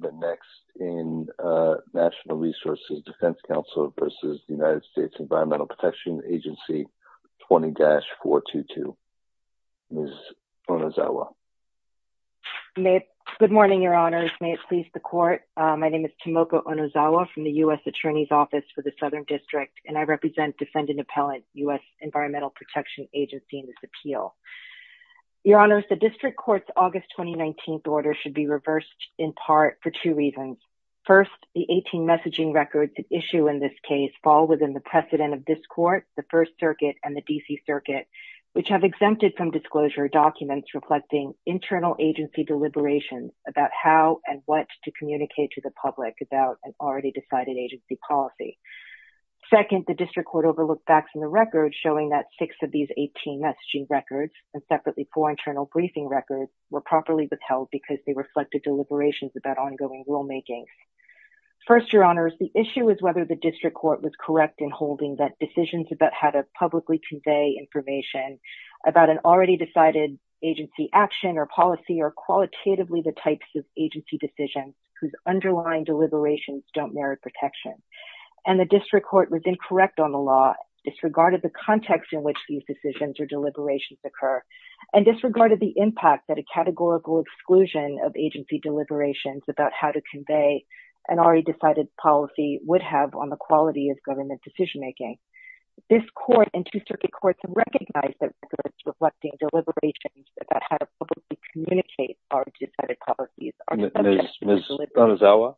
v. United States Environmental Protection Agency 20-422, Ms. Onozawa. Good morning, Your Honors. May it please the Court. My name is Tomoko Onozawa from the U.S. Attorney's Office for the Southern District, and I represent defendant-appellant U.S. Environmental Protection Agency in this appeal. Your Honors, the District Court's August 2019 order should be reversed in part for two reasons. First, the 18 messaging records at issue in this case fall within the precedent of this Court, the First Circuit, and the D.C. Circuit, which have exempted from disclosure documents reflecting internal agency deliberations about how and what to communicate to the public about an already decided agency policy. Second, the District Court overlooked facts in the records showing that six of these 18 messaging records, and separately four internal briefing records, were properly withheld because they reflected deliberations about ongoing rulemaking. First, Your Honors, the issue is whether the District Court was correct in holding that decisions about how to publicly convey information about an already decided agency action or policy are qualitatively the types of agency decisions whose underlying deliberations don't merit protection. And the District Court was incorrect on the law, disregarded the context in which these decisions or deliberations occur, and disregarded the impact that a categorical exclusion of agency deliberations about how to convey an already decided policy would have on the quality of government decision-making. This Court and two Circuit Courts recognize that records reflecting deliberations about how to communicate already decided policies are subject to the deliberative process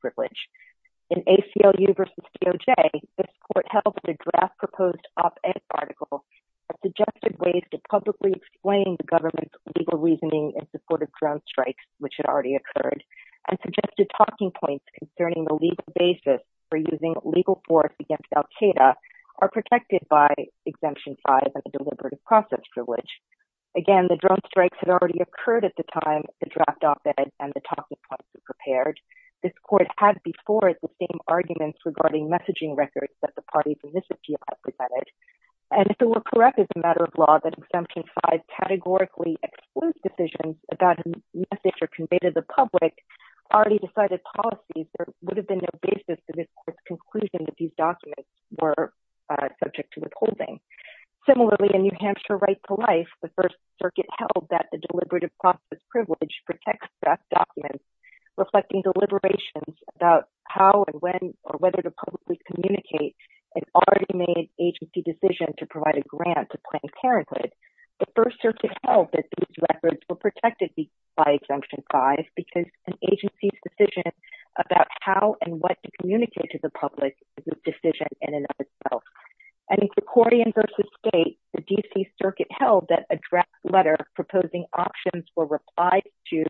privilege. In ACLU v. DOJ, this Court held that a draft proposed op-ed article that suggested ways to publicly explain the government's legal reasoning in support of drone strikes, which had already occurred, and suggested talking points concerning the legal basis for using legal force against Al-Qaeda are protected by Exemption 5 and the deliberative process privilege. Again, the drone strikes had already occurred at the time the draft op-ed and the talking points were prepared. This Court had before it the same arguments regarding messaging records that the parties in this appeal had presented. And if it were correct as a matter of law that Exemption 5 categorically excludes decisions about a message or convey to the public already decided policies, there would have been no basis to this Court's conclusion that these documents were subject to withholding. Similarly, in New Hampshire v. Right to Life, the First Circuit held that the deliberative process privilege protects draft documents reflecting deliberations about how and when or whether to publicly communicate an already made agency decision to provide a grant to Planned Parenthood. The First Circuit held that these records were protected by Exemption 5 because an agency's decision about how and what to communicate to the public is a decision in and of itself. And in Cricordian v. State, the D.C. Circuit held that a draft letter proposing options for reply to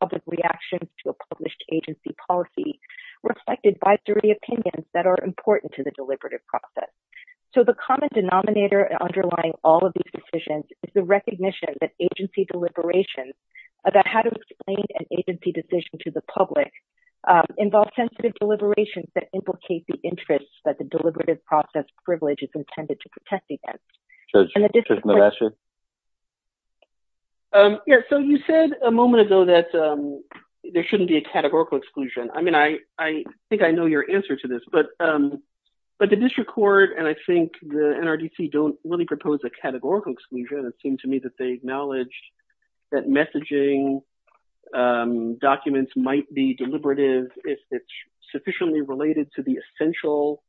public reactions to a published agency policy reflected advisory opinions that are important to the deliberative process. So, the common denominator underlying all of these decisions is the recognition that agency deliberations about how to explain an agency decision to the public involve sensitive deliberations that implicate the interests that the deliberative process privilege is intended to protect against. And the District Court… So, you said a moment ago that there shouldn't be a categorical exclusion. I mean, I think I know your answer to this, but the District Court and I think the NRDC don't really propose a categorical exclusion. It seemed to me that they acknowledged that messaging documents might be deliberative if it's sufficiently related to the essential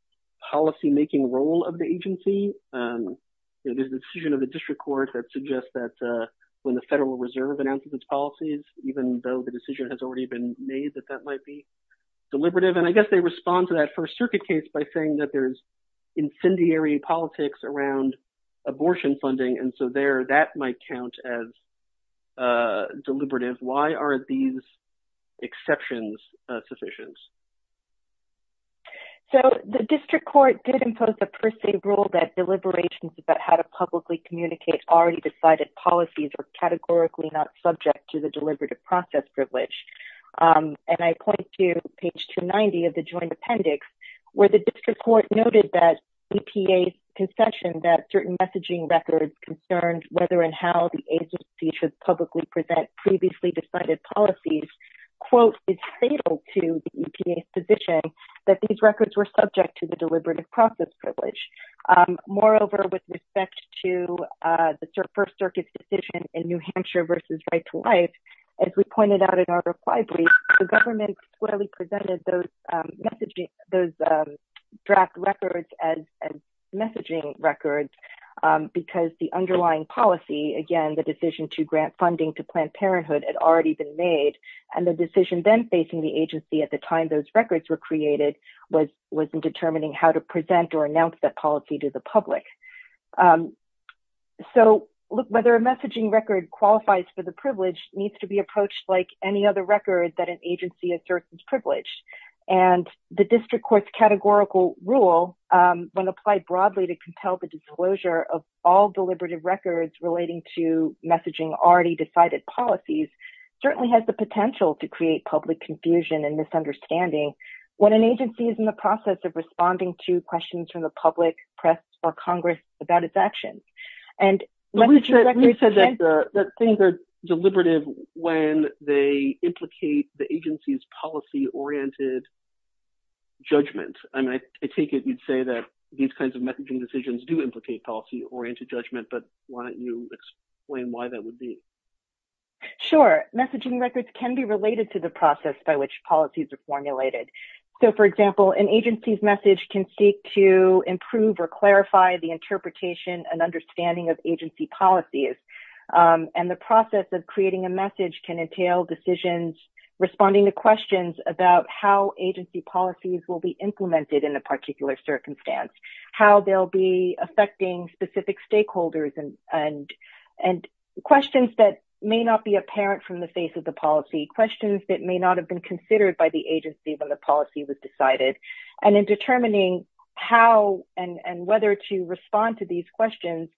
policymaking role of the agency. There's a decision of the District Court that suggests that when the Federal Reserve announces its policies, even though the decision has already been made, that that might be deliberative. And I guess they respond to that First Circuit case by saying that there's incendiary politics around abortion funding. And so, there, that might count as deliberative. Why are these exceptions sufficient? So, the District Court did impose a per se rule that deliberations about how to publicly communicate already decided policies are categorically not subject to the deliberative process privilege. And I point to page 290 of the Joint Appendix, where the District Court noted that EPA's concession that certain messaging records concerned whether and how the agency should publicly present previously decided policies, quote, is fatal to the EPA's position that these records were subject to the deliberative process privilege. Moreover, with respect to the First Circuit's decision in New Hampshire versus Right to Life, as we pointed out in our reply brief, the government squarely presented those draft records as messaging records because the underlying policy, again, the decision to grant funding to Planned Parenthood had already been made. And the decision then facing the agency at the time those records were created was in determining how to present or announce that policy to the public. So, look, whether a messaging record qualifies for the privilege needs to be approached like any other record that an agency asserts is privileged. And the District Court's categorical rule, when applied broadly to compel the disclosure of all deliberative records relating to messaging already decided policies, certainly has the potential to create public confusion and misunderstanding when an agency is in the process of responding to questions from the public, press, or Congress about its actions. And messaging records can't- I mean, I take it you'd say that these kinds of messaging decisions do implicate policy-oriented judgment, but why don't you explain why that would be? Sure. Messaging records can be related to the process by which policies are formulated. So, for example, an agency's message can seek to improve or clarify the interpretation and understanding of agency policies. And the process of creating a message can entail decisions about how agency policies will be implemented in a particular circumstance, how they'll be affecting specific stakeholders, and questions that may not be apparent from the face of the policy, questions that may not have been considered by the agency when the policy was decided. And in determining how and whether to respond to these questions,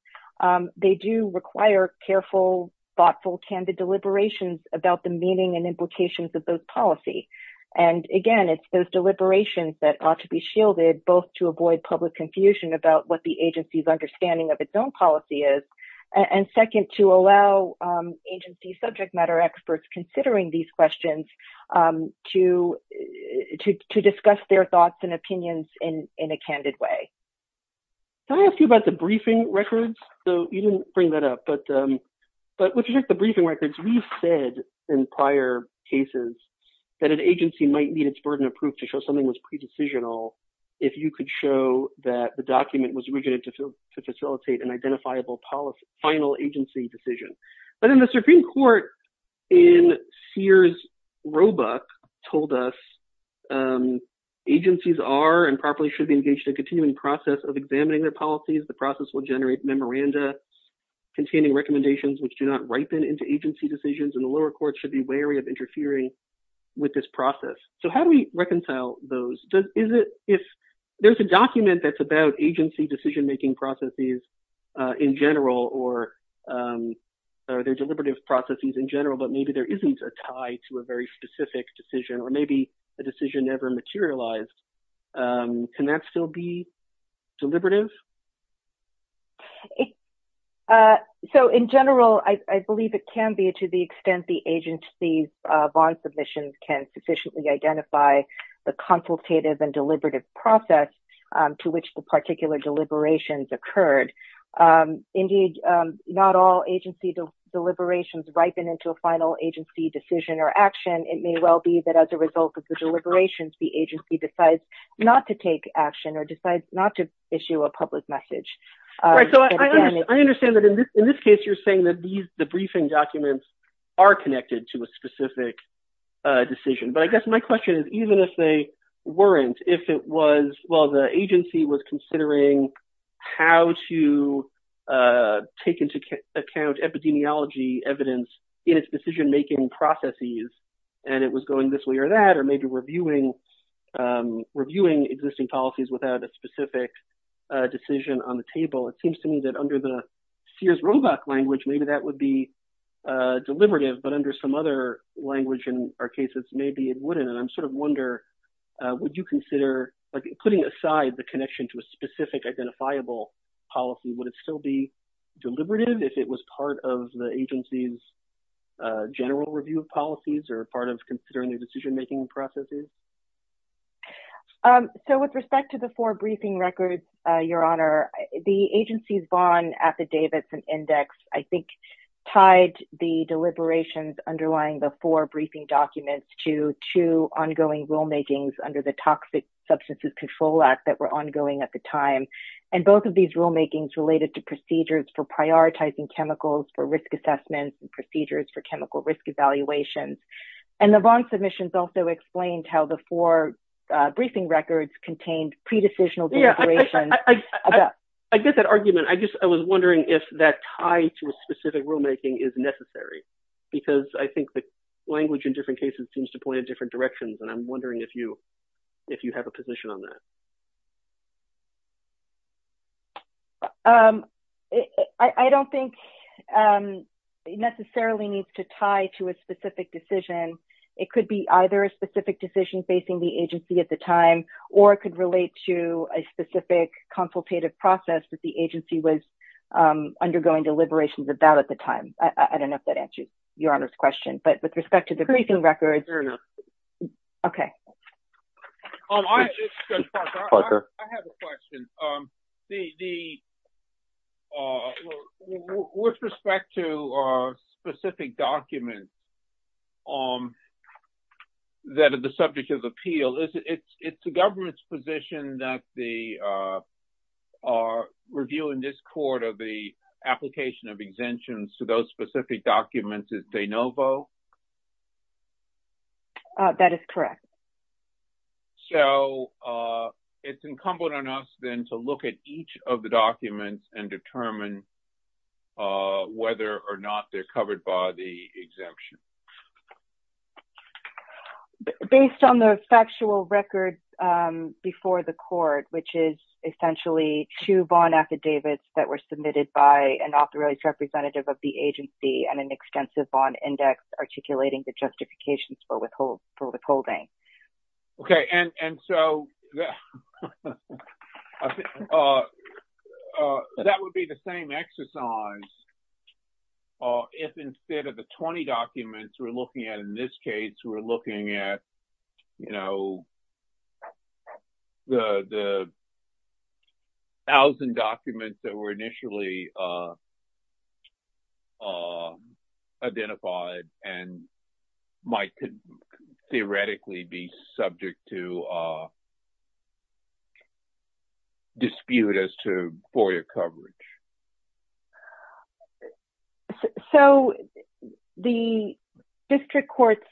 they do require careful, thoughtful, candid deliberations about the meaning and implications of those policies. And again, it's those deliberations that ought to be shielded, both to avoid public confusion about what the agency's understanding of its own policy is, and second, to allow agency subject matter experts considering these questions to discuss their thoughts and opinions in a candid way. Can I ask you about the briefing records? So, you didn't bring that up, but with respect to the briefing records, we've said in prior cases that an agency might need its burden of proof to show something was pre-decisional if you could show that the document was written to facilitate an identifiable final agency decision. But in the Supreme Court, in Sears Roebuck, told us agencies are and properly should be engaged in a continuing process of examining their policies. The process will generate memoranda containing recommendations which do not ripen into agency decisions, and the lower courts should be wary of interfering with this process. So, how do we reconcile those? If there's a document that's about agency decision-making processes in general or their deliberative processes in general, but maybe there isn't a tie to a very specific decision or maybe a decision never materialized, can that still be deliberative? So, in general, I believe it can be to the extent the agency's bond submissions can sufficiently identify the consultative and deliberative process to which the particular deliberations occurred. Indeed, not all agency deliberations ripen into a final agency decision or action. It may well be that as a result of the deliberations, the agency decides not to take action or decides not to issue a public message. Right. So, I understand that in this case, you're saying that the briefing documents are connected to a specific decision. But I guess my question is, even if they weren't, if it was, well, the agency was considering how to take into account epidemiology evidence in its decision-making processes, and it was going this way or that, or maybe reviewing existing policies without a specific decision on the table, it seems to me that under the Sears Roebuck language, maybe that would be deliberative. But under some other language in our cases, maybe it wouldn't. And I'm sort of wondering, would you consider putting aside the connection to a specific identifiable policy? Would it still be deliberative if it was part of the agency's general review of policies or part of considering the decision-making processes? So, with respect to the four briefing records, Your Honor, the agency's Vaughan Affidavits and Index, I think, tied the deliberations underlying the four briefing documents to two ongoing rulemakings under the Toxic Substances Control Act that were ongoing at the time. And both of assessments and procedures for chemical risk evaluations. And the Vaughan submissions also explained how the four briefing records contained pre-decisional deliberations. I get that argument. I was wondering if that tie to a specific rulemaking is necessary, because I think the language in different cases seems to point in different directions, and I'm wondering if you have a position on that. I don't think it necessarily needs to tie to a specific decision. It could be either a specific decision facing the agency at the time, or it could relate to a specific consultative process that the agency was undergoing deliberations about at the time. I don't know if that answers Your Honor's question. But with respect to the briefing records... Fair enough. Okay. I have a question. With respect to specific documents that are the subject of appeal, it's the government's position that the review in this court of the application of exemptions to those specific documents is de novo? That is correct. So, it's incumbent on us then to look at each of the documents and determine whether or not they're covered by the exemption. Based on the factual records before the court, which is essentially two Vaughan affidavits that were submitted by an authorized representative of the agency and an extensive Vaughan index articulating the justifications for withholding. Okay. And so, that would be the same exercise if instead of the 20 documents we're looking at in this case, we're looking at the thousand documents that were initially identified and might theoretically be subject to dispute as to FOIA coverage. So, the district court's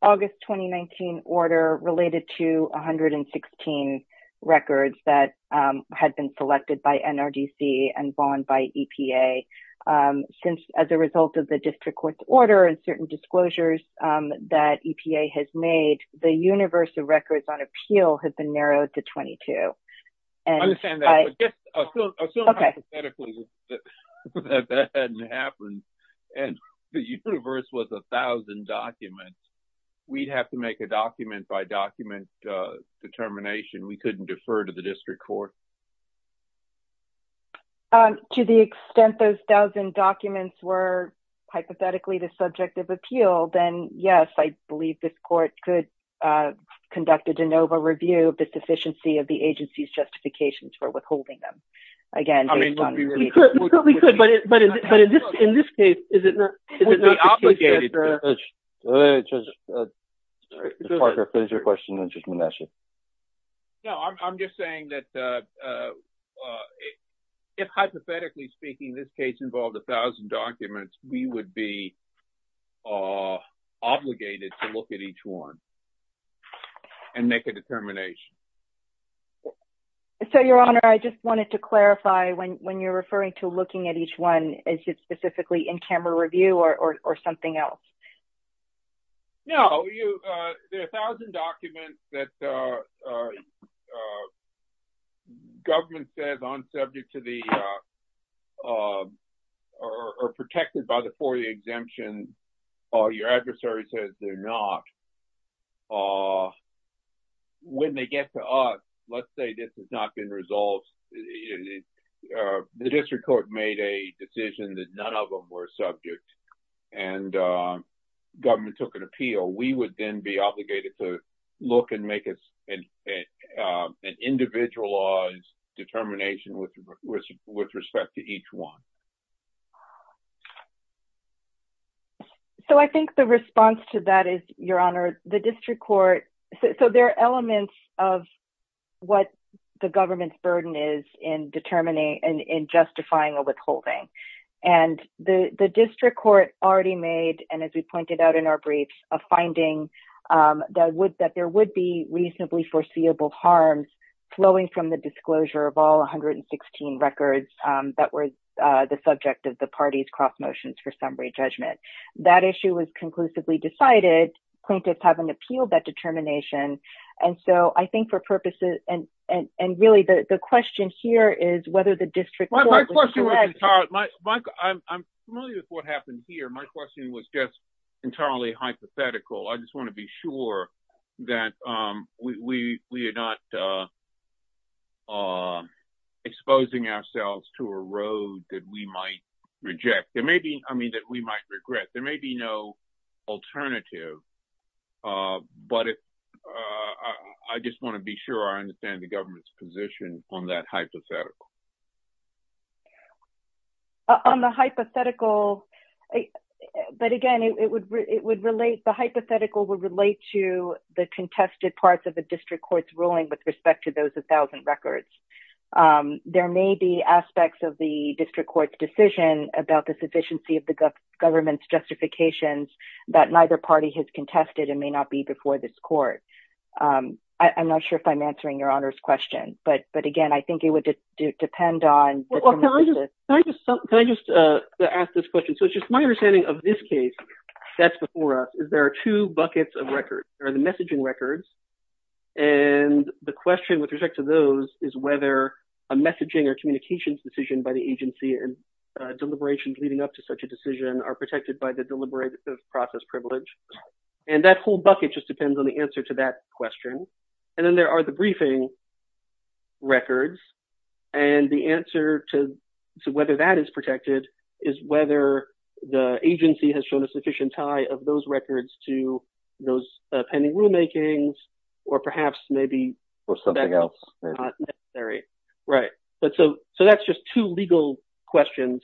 August 2019 order related to 116 records that had been selected by NRDC and Vaughan by EPA. Since, as a result of the district court's order and certain disclosures that EPA has made, the universe of records on appeal has been narrowed to 22. I understand that. But just assume hypothetically that that's true. If that hadn't happened and the universe was a thousand documents, we'd have to make a document by document determination. We couldn't defer to the district court. To the extent those thousand documents were hypothetically the subject of appeal, then yes, I believe this court could conduct a de novo review of the sufficiency of the agency's withholding them. I mean, we could, but in this case, is it not the case that the… It would be obligated. Parker, finish your question and then I'm going to ask you. No, I'm just saying that if hypothetically speaking this case involved a thousand documents, we would be obligated to look at each one and make a determination. So, your honor, I just wanted to clarify when you're referring to looking at each one, is it specifically in camera review or something else? No, there are a thousand documents that the government says are protected by the FOIA exemption or your adversary says they're not. When they get to us, let's say this has not been resolved. The district court made a decision that none of them were subject and government took an appeal. We would then be obligated to look and make an individualized determination with respect to each one. So, I think the response to that is, your honor, the district court… So, there are elements of what the government's burden is in determining and in justifying a withholding. And the district court already made, and as we pointed out in our briefs, a finding that there would be reasonably foreseeable harm flowing from the disclosure of all 116 records that were the subject of the party's cross motions for summary judgment. That issue was conclusively decided. Plaintiffs haven't appealed that determination. And so, I think for purposes, and really, the question here is whether the district court was… I'm familiar with what happened here. My question was just entirely hypothetical. I just want to be sure that we are not exposing ourselves to a road that we might regret. There may be no alternative, but I just want to be sure I understand the government's position on that hypothetical. On the hypothetical… But again, it would relate… The hypothetical would relate to the contested parts of the district court's ruling with respect to those 1,000 records. There may be aspects of the district court's decision about the sufficiency of the government's justifications that neither party has contested and may not be before this court. I'm not sure if I'm answering your honor's question, but again, I think it would depend on… Can I just ask this question? So, it's just my understanding of this case that's before us is there are two buckets of records. There are the messaging records, and the question with respect to those is whether a messaging or communications decision by the agency and deliberations leading up to such a decision are protected by the deliberative process privilege. And that whole bucket just depends on the answer to that question. And then there are the briefing records, and the answer to whether that is protected is whether the agency has shown a sufficient tie of those records to those pending rulemakings, or perhaps maybe… Or something else. Not necessary. Right. So, that's just two legal questions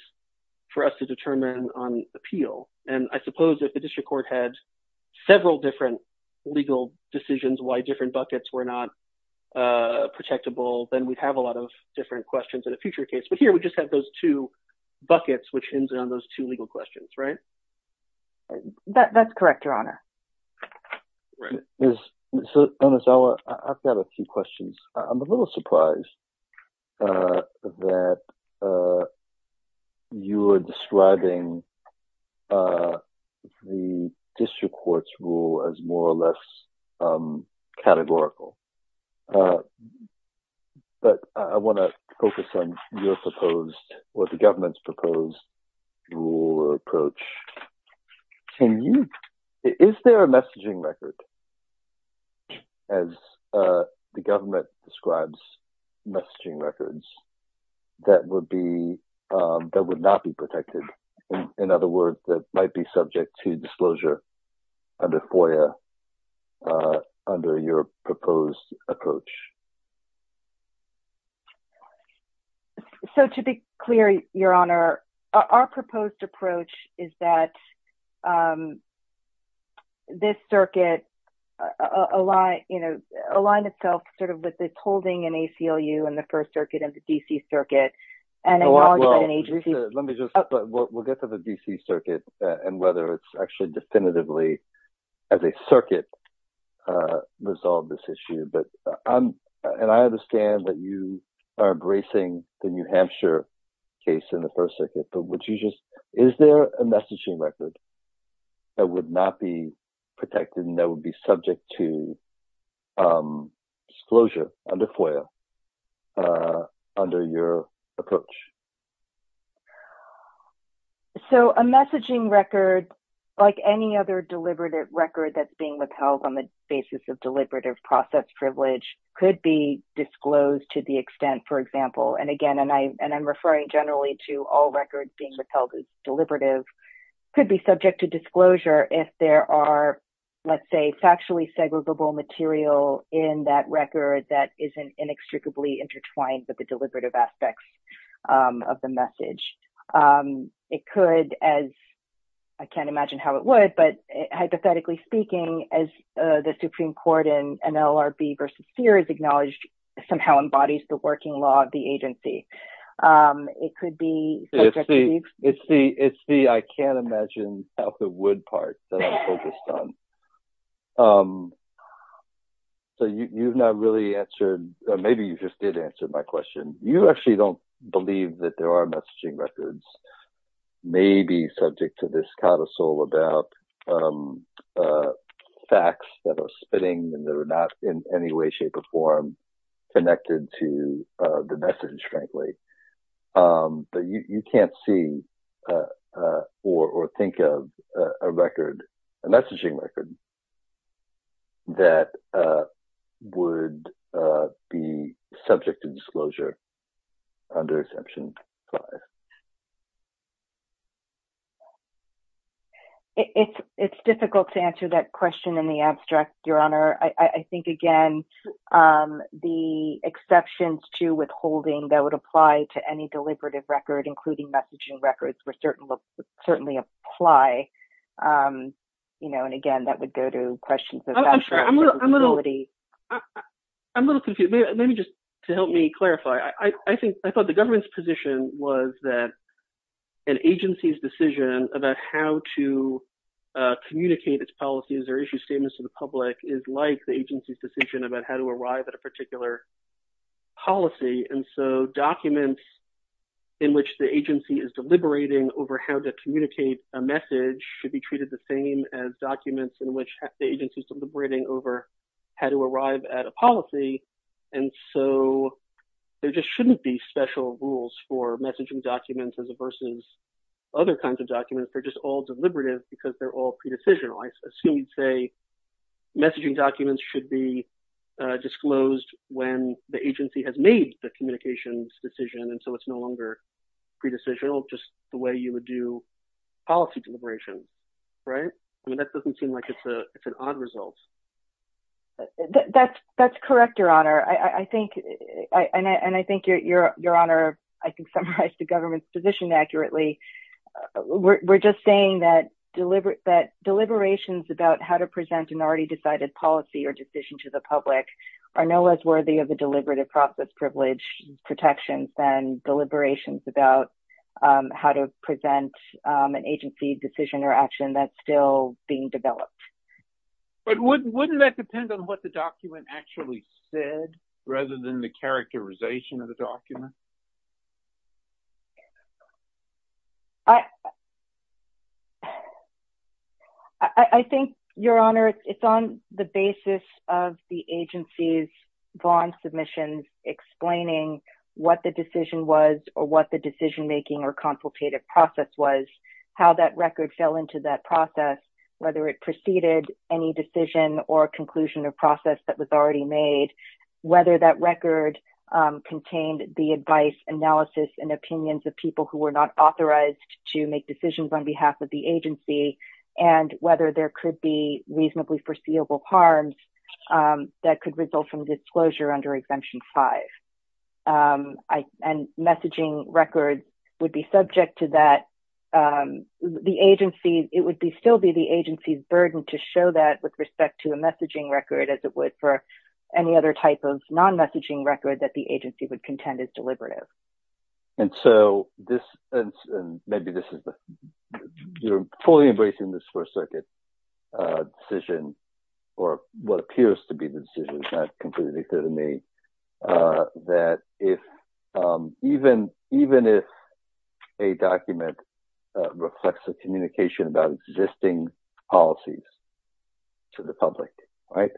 for us to determine on appeal. And I suppose if the district court had several different legal decisions why different buckets were not protectable, then we'd have a lot of different questions in a future case. But here, we just have those two buckets, which ends on those two legal questions, right? That's correct, your honor. So, Ms. Auer, I've got a few questions. I'm a little surprised that you are describing the district court's rule as more or less categorical. But I want to focus on your proposed, or the government's proposed, rule or approach. Can you… Is there a messaging record, as the government describes messaging records, that would be… that would not be protected? In other words, that might be subject to disclosure under FOIA, under your proposed approach. So, to be clear, your honor, our proposed approach is that this circuit aligns itself sort of with its holding in ACLU and the First Circuit and the D.C. Circuit. Well, let me just… We'll get to the D.C. Circuit and whether it's actually definitively, as a circuit, resolved this issue. But I'm… And I understand that you are embracing the New Hampshire case in the First Circuit, but would you just… Is there a messaging record that would not be protected and that would be subject to disclosure under FOIA, under your approach? So, a messaging record, like any other deliberate record that's being withheld on the basis of deliberative process privilege, could be disclosed to the extent, for example, and again, and I'm referring generally to all records being withheld as deliberative, could be subject to disclosure if there are, let's say, factually segregable material in that record that isn't inextricably intertwined with the deliberative aspects of the message. It could, as… I can't imagine how it would, but hypothetically speaking, as the Supreme Court in NLRB v. Sears acknowledged, somehow embodies the working law of the agency. It could be… It's the… I can't imagine how it would be… So, you've not really answered… Maybe you just did answer my question. You actually don't believe that there are messaging records, maybe subject to this codicil about facts that are spinning and that are not in any way, shape, or form connected to the message, frankly. But you can't see or think of a record, a messaging record, that would be subject to disclosure under Exemption 5. It's difficult to answer that question in the abstract, Your Honor. I think, again, the exceptions to withholding that would apply to any deliberative record, including messaging records, would certainly apply. And, again, that would go to questions of… I'm sure. I'm a little… I'm a little confused. Maybe just to help me clarify, I think… I thought the government's position was that an agency's decision about how to communicate its policies or issue statements to the public is like the agency's decision about how to arrive at a particular policy. And so, documents in which the agency is deliberating over how to communicate a message should be treated the same as documents in which the agency is deliberating over how to arrive at a policy. And so, there just shouldn't be special rules for messaging documents versus other kinds of documents. They're just all deliberative because they're all pre-decisional. I assume you'd say messaging documents should be disclosed when the agency has made the communications decision. And so, it's no longer pre-decisional, just the way you would do policy deliberation, right? I mean, that doesn't seem like it's an odd result. That's correct, Your Honor. I think… And I think, Your Honor, I can summarize the government's position accurately. We're just saying that deliberations about how to present an already decided policy or decision to the public are no less worthy of the deliberative process privilege protections than deliberations about how to present an agency decision or action that's still being developed. But wouldn't that depend on what the document actually said rather than the characterization of the document? I think, Your Honor, it's on the basis of the agency's bond submissions explaining what the decision was or what the decision-making or consultative process was, how that record fell into that process, whether it preceded any decision or conclusion of process that was already made, whether that record contained the advice, analysis, and opinions of people who were not authorized to make decisions on behalf of the agency, and whether there could be reasonably foreseeable harms that could result from disclosure under Exemption 5. And messaging records would be subject to that. It would still be the agency's burden to show that with respect to a messaging record as it would for any other type of non-messaging record that the agency would contend is deliberative. And so this, and maybe this is, you're fully embracing this First Circuit decision, or what appears to be the decision, it's not completely clear to me, that if, even if a document reflects a communication about existing policies, to the public, right,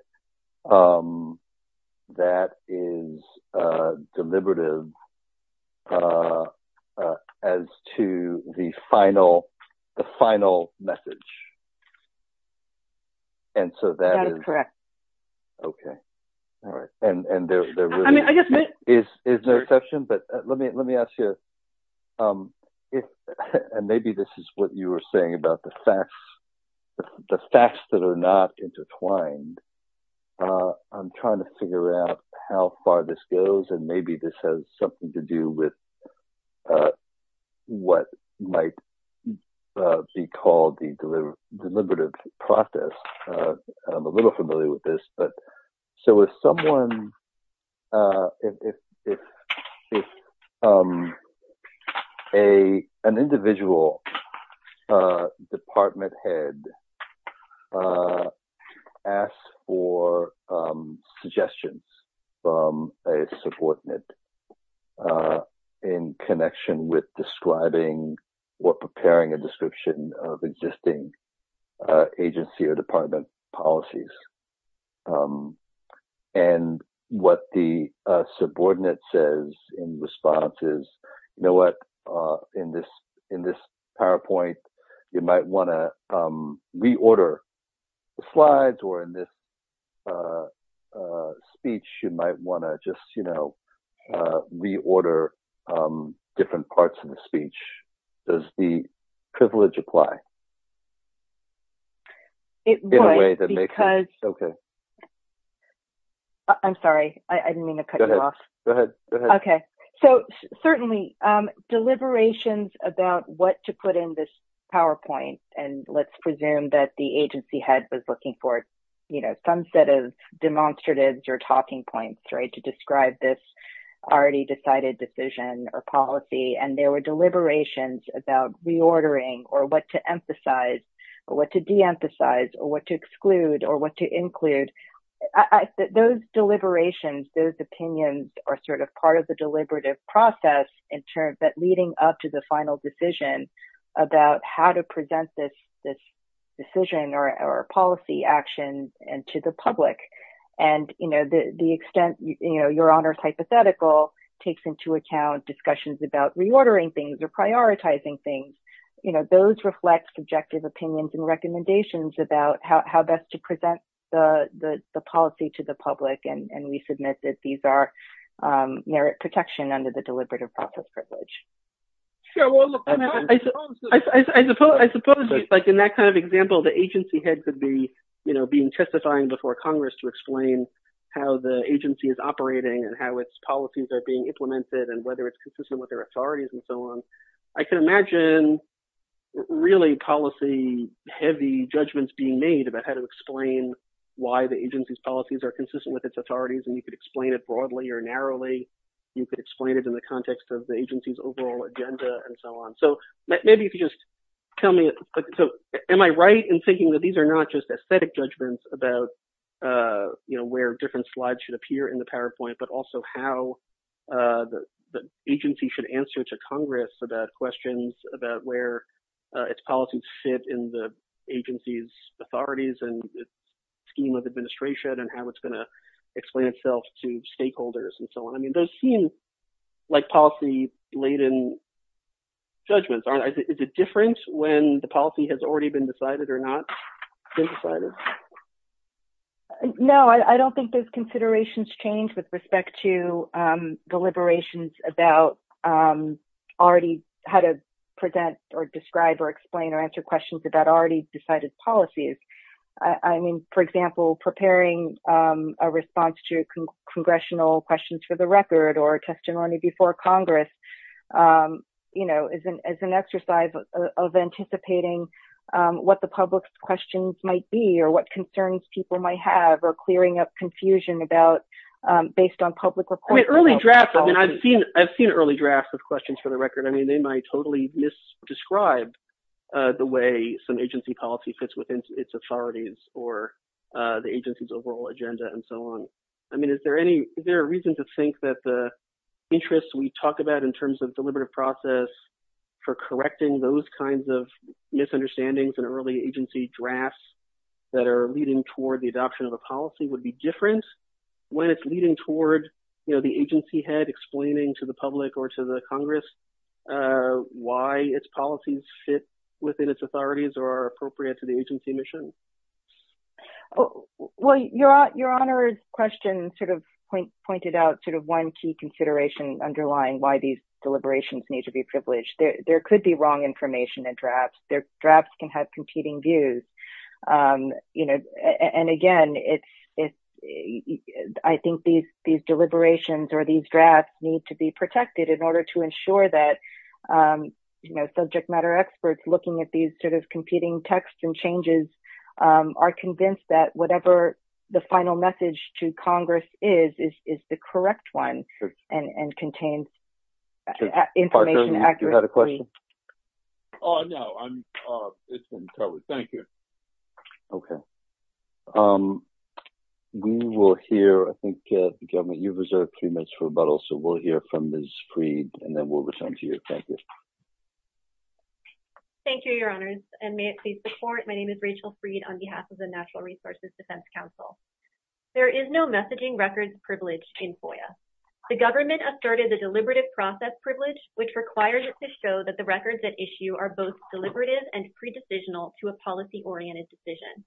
that is deliberative as to the final message. And so that is correct. Okay. All right. And there really is no exception, but let me ask you, if, and maybe this is what you were saying about the facts, the facts that are not intertwined, I'm trying to figure out how far this goes, and maybe this has something to do with what might be called the deliberative process. I'm a little familiar with this, but, so if someone, if an individual department head asks for suggestions from a subordinate in connection with describing or preparing a description of existing agency or department policies, and what the subordinate says in response is, you know what, in this, in this PowerPoint, you might want to reorder the slides, or in this speech, you might want to just, you know, in a way that makes sense. It would, because, okay. I'm sorry, I didn't mean to cut you off. Go ahead, go ahead. Okay. So certainly, deliberations about what to put in this PowerPoint, and let's presume that the agency head was looking for, you know, some set of demonstratives or talking points, right, to describe this already decided decision or policy, and there were deliberations about reordering, or what to emphasize, or what to de-emphasize, or what to exclude, or what to include. Those deliberations, those opinions are sort of part of the deliberative process, in turn, but leading up to the final decision about how to present this decision or policy action to the public, and, you know, the extent, you know, Your Honor's hypothetical takes into account discussions about reordering things or prioritizing things, you know, those reflect subjective opinions and recommendations about how best to present the policy to the public, and we submit that these are merit protection under the deliberative process privilege. Sure, well, I suppose, like, in that kind of example, the agency head could be, you know, being testifying before Congress to explain how the agency is operating, and how its policies are being implemented, and whether it's consistent with their authorities, and so on. I can imagine really policy-heavy judgments being made about how to explain why the agency's policies are consistent with its authorities, and you could explain it broadly or narrowly. You could explain it in the context of the agency's overall agenda, and so on. So maybe if you just tell me, so am I right in thinking that these are not just aesthetic judgments about, you know, where different slides should appear in the PowerPoint, but also how the agency should answer to Congress about questions about where its policies fit in the agency's authorities, and its scheme of administration, and how it's going to explain itself to stakeholders, and so on. I mean, those seem like policy-laden judgments, is it different when the policy has already been decided or not been decided? No, I don't think those considerations change with respect to deliberations about already how to present, or describe, or explain, or answer questions about already decided policies. I mean, for example, preparing a response to congressional questions for the record, or testimony before Congress, you know, is an exercise of anticipating what the public's questions might be, or what concerns people might have, or clearing up confusion about, based on public reports. I mean, early drafts, I mean, I've seen early drafts of questions for the record. I mean, they might totally misdescribe the way some agency policy fits within its authorities, or the agency's overall agenda, and so on. I mean, is there any, is there a reason to the interest we talk about in terms of deliberative process for correcting those kinds of misunderstandings in early agency drafts that are leading toward the adoption of a policy would be different when it's leading toward, you know, the agency head explaining to the public, or to the Congress, why its policies fit within its authorities, or are appropriate to the agency mission? Well, your honor's question sort of pointed out sort of one key consideration underlying why these deliberations need to be privileged. There could be wrong information in drafts. Their drafts can have competing views. You know, and again, it's, I think these deliberations, or these drafts need to be protected in order to ensure that, you know, subject matter experts looking at these sort of competing texts and changes are convinced that whatever the final message to Congress is, is the correct one, and contains information accurately. Parker, you had a question? Oh, no, I'm, it's been covered. Thank you. Okay. We will hear, I think, the government, you've reserved three minutes for rebuttal, so we'll hear from Ms. Freed, and then we'll return to you. Thank you. Thank you, your honors, and may it please the court. My name is Rachel Freed on behalf of the Natural Resources Defense Council. There is no messaging records privilege in FOIA. The government asserted the deliberative process privilege, which requires it to show that the records at issue are both deliberative and pre-decisional to a policy-oriented decision.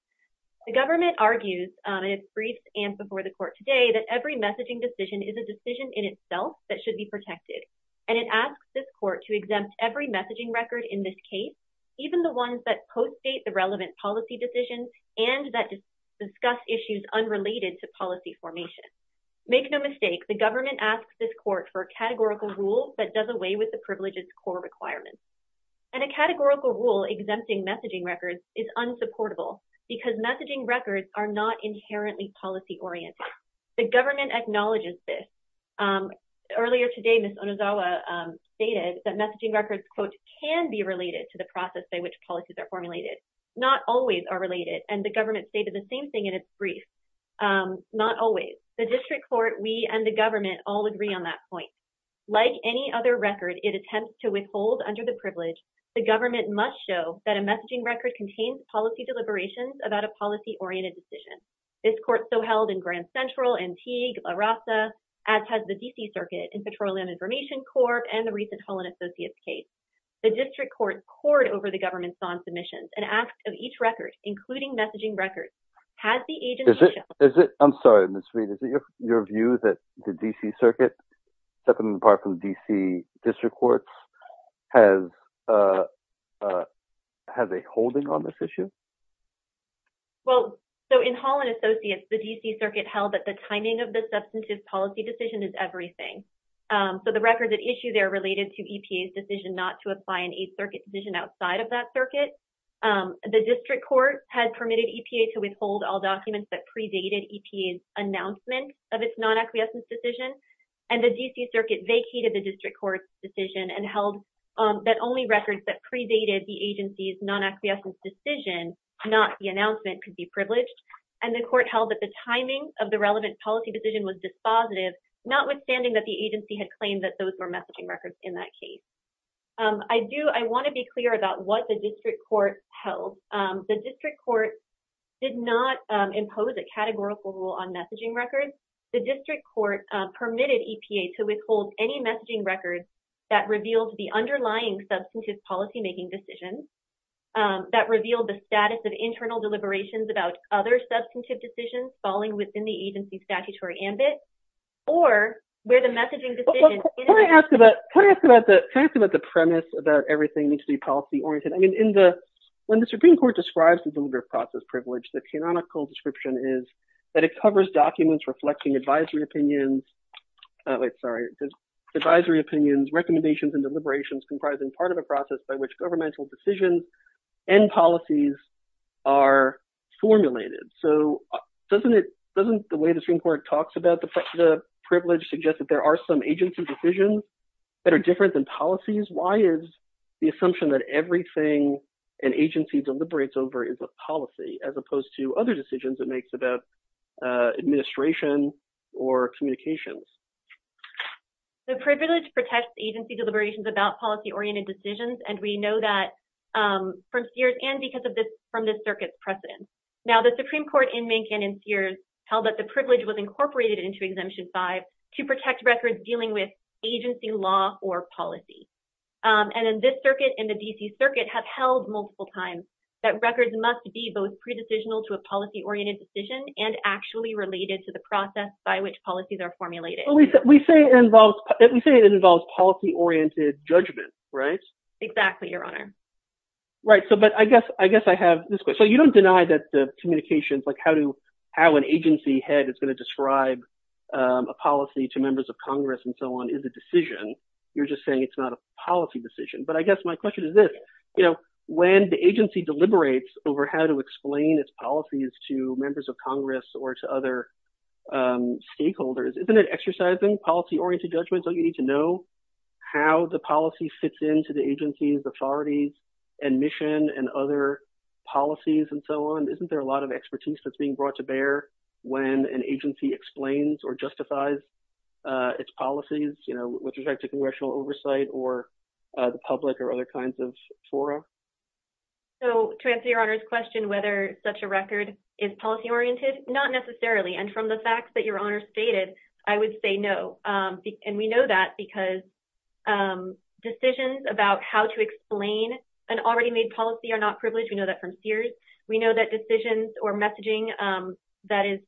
The government argues, in its briefs and before the court today, that every messaging decision is a decision in itself that should be protected, and it asks this court to exempt every messaging record in this case, even the ones that post-date the relevant policy decisions and that discuss issues unrelated to policy formation. Make no mistake, the government asks this court for a categorical rule that does away with the privilege's core requirements, and a categorical rule exempting messaging records is unsupportable because messaging records are not inherently policy-oriented. The government acknowledges this. Earlier today, Ms. Onizawa stated that messaging records, quote, can be related to the process by which policies are formulated, not always are related, and the government stated the same thing in its brief, not always. The district court, we, and the government all agree on that point. Like any other record, it attempts to withhold under the privilege, the government must show that a messaging record contains policy deliberations about a policy-oriented decision. This court so held in Grand Central, Antigua, La Raza, as has the D.C. Circuit in Petroleum Information Corp. and the recent Holland Associates case. The district court cored over the government's own submissions and asked of each record, including messaging records, has the agency... Is it, is it, I'm sorry Ms. Reid, is it your view that the D.C. Circuit, separate and apart from D.C. district courts, has, has a holding on this issue? Well, so in Holland Associates, the D.C. Circuit held that the timing of the substantive policy decision is everything. So the records at issue there related to EPA's decision not to apply an aid circuit decision outside of that circuit. The district court had permitted EPA to withhold all vacated the district court's decision and held that only records that predated the agency's non-acquiescence decision, not the announcement, could be privileged. And the court held that the timing of the relevant policy decision was dispositive, notwithstanding that the agency had claimed that those were messaging records in that case. I do, I want to be clear about what the district court held. The district court did not impose a categorical rule on messaging records. The district court permitted EPA to withhold any messaging records that revealed the underlying substantive policymaking decisions, that revealed the status of internal deliberations about other substantive decisions falling within the agency's statutory ambit, or where the messaging decision... Can I ask about, can I ask about the premise about everything needs to be policy oriented? I mean, in the, when the Supreme Court describes the delivery of process privilege, the canonical description is that it covers documents reflecting advisory opinions, oh wait, sorry, advisory opinions, recommendations, and deliberations comprising part of a process by which governmental decisions and policies are formulated. So doesn't it, doesn't the way the Supreme Court talks about the privilege suggest that there are some agency decisions that are different than policies? Why is the assumption that everything an agency deliberates over is a other decisions it makes about administration or communications? The privilege protects agency deliberations about policy-oriented decisions, and we know that from Sears and because of this, from this circuit's precedent. Now the Supreme Court in Mankin and Sears held that the privilege was incorporated into Exemption 5 to protect records dealing with agency law or policy. And in this circuit, in the D.C. circuit, have held multiple times that records must be both pre-decisional to a policy-oriented decision and actually related to the process by which policies are formulated. We say it involves, we say it involves policy oriented judgment, right? Exactly, Your Honor. Right, so, but I guess, I guess I have this question. So you don't deny that the communications, like how to, how an agency head is going to describe a policy to members of Congress and so on is a decision. You're just saying it's not a decision. But I guess my question is this, you know, when the agency deliberates over how to explain its policies to members of Congress or to other stakeholders, isn't it exercising policy-oriented judgments? Don't you need to know how the policy fits into the agency's authorities and mission and other policies and so on? Isn't there a lot of expertise that's being brought to bear when an agency explains or justifies its policies, you know, with respect to congressional oversight or the public or other kinds of fora? So, to answer Your Honor's question whether such a record is policy-oriented, not necessarily. And from the facts that Your Honor stated, I would say no. And we know that because decisions about how to explain an already made policy are not privileged. We know that from Sears. We know that decisions or messaging that is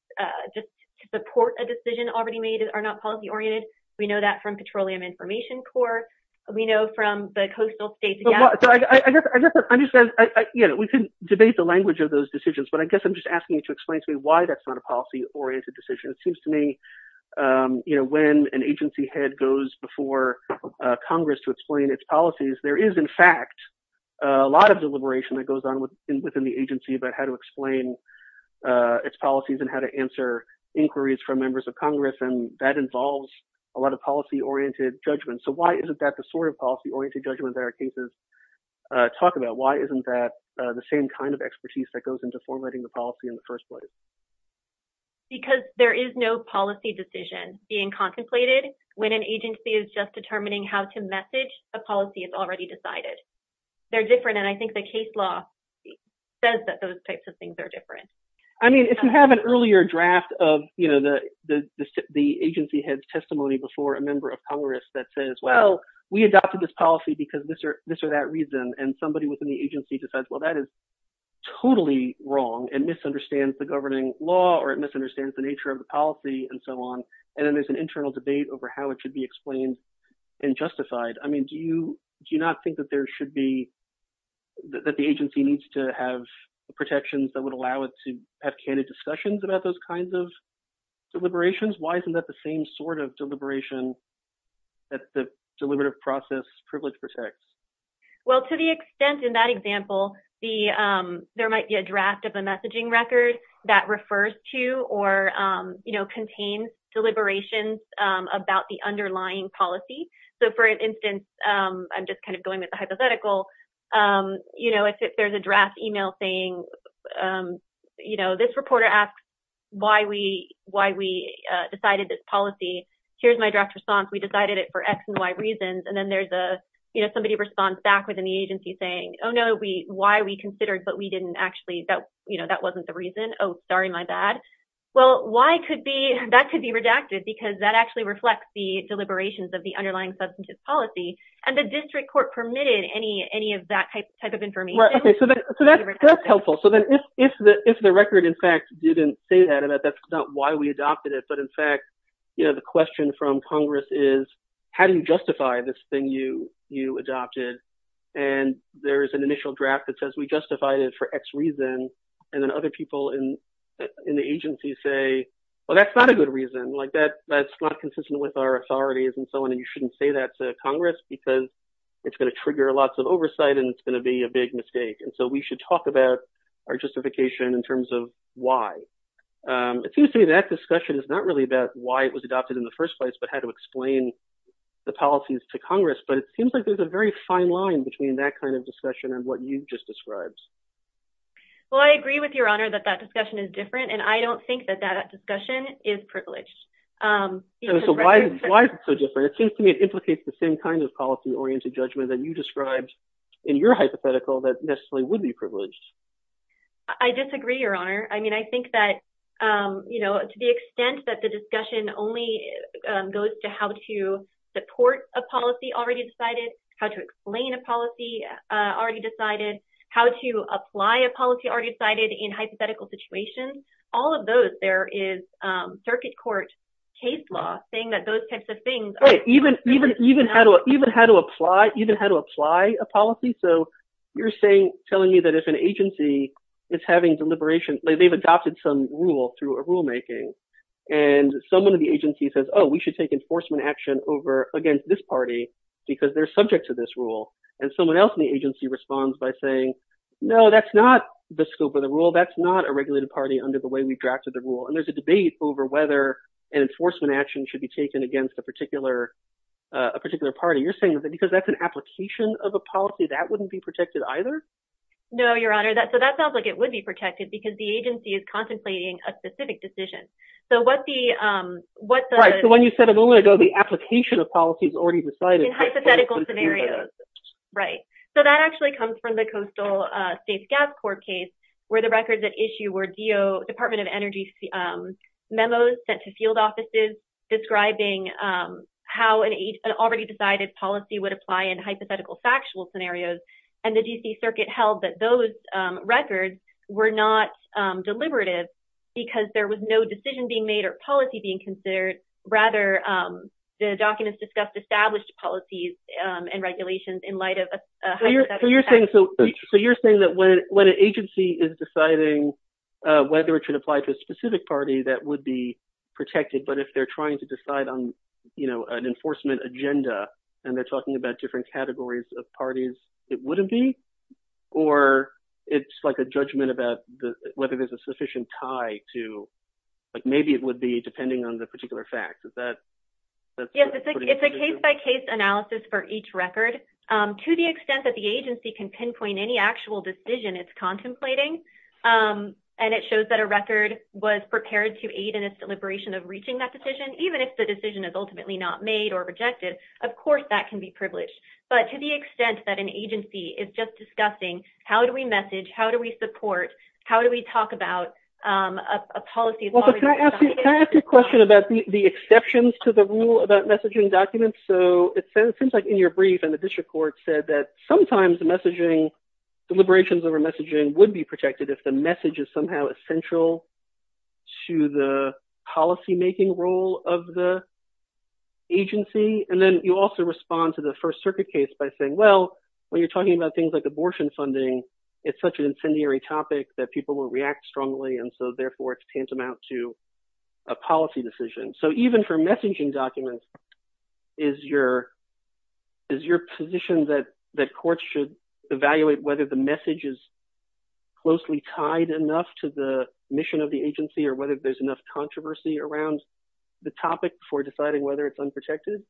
just to support a decision already made are not policy-oriented. We know that from Petroleum Information Corps. We know from the Coastal States. I guess I understand, you know, we can debate the language of those decisions. But I guess I'm just asking you to explain to me why that's not a policy-oriented decision. It seems to me, you know, when an agency head goes before Congress to explain its policies, there is in fact a lot of deliberation that goes on within the agency about how to explain its policies and how to answer inquiries from members of Congress. And that involves a lot of policy-oriented judgment. So, why isn't that the sort of policy-oriented judgment that our cases talk about? Why isn't that the same kind of expertise that goes into formatting the policy in the first place? Because there is no policy decision being contemplated when an agency is just determining how to message a policy that's already decided. They're different. And I think the case law says that those types of things are different. I mean, if you have an earlier draft of, you know, the agency head's testimony before a member of Congress that says, well, we adopted this policy because this or that reason. And somebody within the agency decides, well, that is totally wrong and misunderstands the governing law or it misunderstands the nature of the policy and so on. And then there's an internal debate over how it should be explained and justified. I mean, do you not think that there should be, that the agency needs to have protections that would allow it to have candid discussions about those kinds of deliberations? Why isn't that the same sort of deliberation that the deliberative process privilege protects? Well, to the extent in that example, there might be a draft of a messaging record that refers to or, you know, contains deliberations about the underlying policy. So, for instance, I'm just kind of going with the hypothetical. You know, if there's a draft email saying, you know, this reporter asks why we decided this policy, here's my draft response. We decided it for X and Y reasons. And then there's a, you know, somebody responds back in the agency saying, oh, no, we, why we considered, but we didn't actually, that, you know, that wasn't the reason. Oh, sorry, my bad. Well, why could be, that could be redacted because that actually reflects the deliberations of the underlying substantive policy. And the district court permitted any of that type of information. Right, okay, so that's helpful. So then if the record, in fact, didn't say that, and that's not why we adopted it, but in fact, you know, the question from Congress is, how do you justify this thing you adopted? And there's an initial draft that says we justified it for X reason. And then other people in the agency say, well, that's not a good reason. Like that's not consistent with our authorities and so on. And you shouldn't say that to Congress because it's going to trigger lots of oversight and it's going to be a big mistake. And so we should talk about our justification in terms of why. It seems to me that discussion is not about why it was adopted in the first place, but how to explain the policies to Congress. But it seems like there's a very fine line between that kind of discussion and what you've just described. Well, I agree with your honor that that discussion is different and I don't think that that discussion is privileged. So why is it so different? It seems to me it implicates the same kind of policy oriented judgment that you described in your hypothetical that necessarily would be privileged. I disagree, your honor. I mean, I think that, you know, to the extent that the discussion only goes to how to support a policy already decided, how to explain a policy already decided, how to apply a policy already decided in hypothetical situations, all of those, there is circuit court case law saying that those types of things. Right. Even how to apply a policy. So you're saying, telling me that if an agency is having deliberation, they've adopted some rule through a rulemaking and someone in the agency says, oh, we should take enforcement action over against this party because they're subject to this rule. And someone else in the agency responds by saying, no, that's not the scope of the rule. That's not a regulated party under the way we drafted the rule. And there's a debate over whether an enforcement action should be taken against a particular, a particular party. You're saying that because that's an application of a policy that wouldn't be protected either? No, your honor. So that sounds like it would be protected because the agency is contemplating a specific decision. So what the- Right. So when you said a moment ago, the application of policies already decided- In hypothetical scenarios. Right. So that actually comes from the Coastal Safe Gas Court case where the records at issue were DO, Department of Energy memos sent to field offices describing how an already decided policy would apply in hypothetical factual scenarios. And the DC circuit held that those records were not deliberative because there was no decision being made or policy being considered. Rather, the documents discussed established policies and regulations in light of- So you're saying that when an agency is deciding whether it should apply to a specific party that would be protected, but if they're trying to protect a specific group of parties, it wouldn't be? Or it's like a judgment about whether there's a sufficient tie to, like maybe it would be depending on the particular fact. Is that- Yes. It's a case by case analysis for each record. To the extent that the agency can pinpoint any actual decision it's contemplating, and it shows that a record was prepared to aid in its deliberation of reaching that decision, even if the decision is ultimately not made or rejected, of course that can be privileged. But to the extent that an agency is just discussing how do we message, how do we support, how do we talk about a policy- Well, can I ask you a question about the exceptions to the rule about messaging documents? So it seems like in your brief and the district court said that sometimes the messaging, deliberations over messaging would be protected if the message is somehow essential to the policymaking role of the agency. And then you also respond to the First Circuit case by saying, well, when you're talking about things like abortion funding, it's such an incendiary topic that people won't react strongly, and so therefore it's tantamount to a policy decision. So even for messaging documents, is your position that courts should whether the message is closely tied enough to the mission of the agency or whether there's enough controversy around the topic for deciding whether it's unprotected?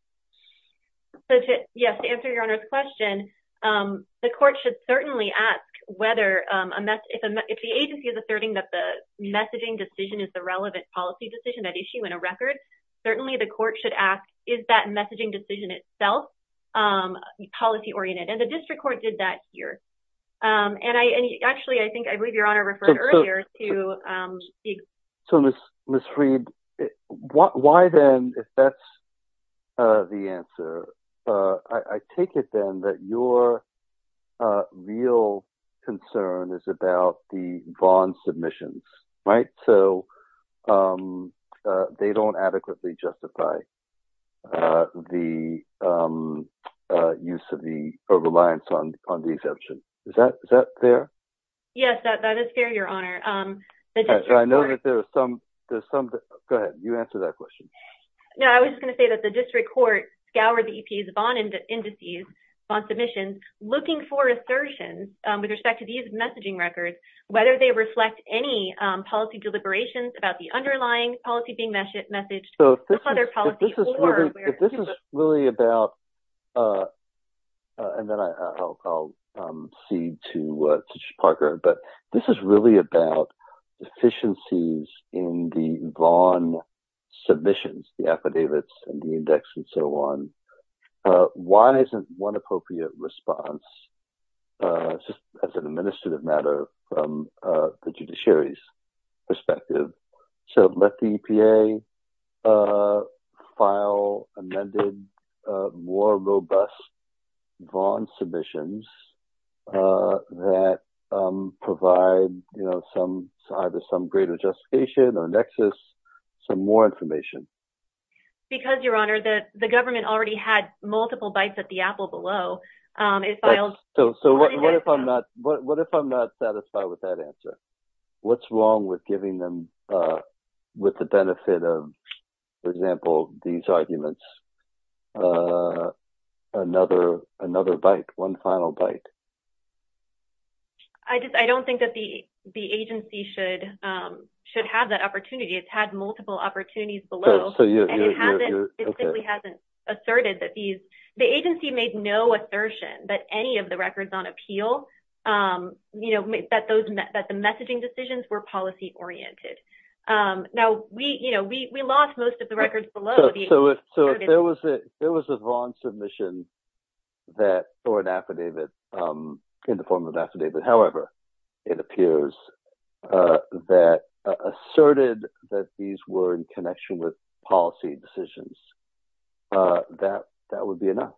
So yes, to answer your Honor's question, the court should certainly ask whether a mess- if the agency is asserting that the messaging decision is the relevant policy decision at issue in a record, certainly the court should ask, is that messaging decision itself policy-oriented? And the district court did that here. And I actually, I think, I believe your Honor referred earlier to- So Ms. Freed, why then, if that's the answer, I take it then that your real concern is about the bond submissions, right? So they don't adequately justify the use of the- or reliance on the exemption. Is that fair? Yes, that is fair, your Honor. I know that there are some- go ahead, you answer that question. No, I was just going to say that the district court scoured the EP's bond indices, bond submissions, looking for assertions with respect to these messaging records, whether they reflect any policy deliberations about the underlying policy being messaged- If this is really about- and then I'll cede to Mr. Parker, but this is really about efficiencies in the bond submissions, the affidavits and the index and so on. Why isn't one appropriate response as an administrative matter from the judiciary's perspective? So let the EPA file amended, more robust bond submissions that provide either some greater justification or nexus, some more information. Because, your Honor, the government already had it filed- So what if I'm not satisfied with that answer? What's wrong with giving them, with the benefit of, for example, these arguments, another bite, one final bite? I don't think that the agency should have that opportunity. It's had multiple opportunities below, and it simply hasn't asserted that these- The agency made no assertion that any of the records on appeal, that the messaging decisions were policy-oriented. Now, we lost most of the records below. So if there was a bond submission that, or an affidavit, in the form of an affidavit, however it appears, that asserted that these were in connection with policy decisions, that would be enough.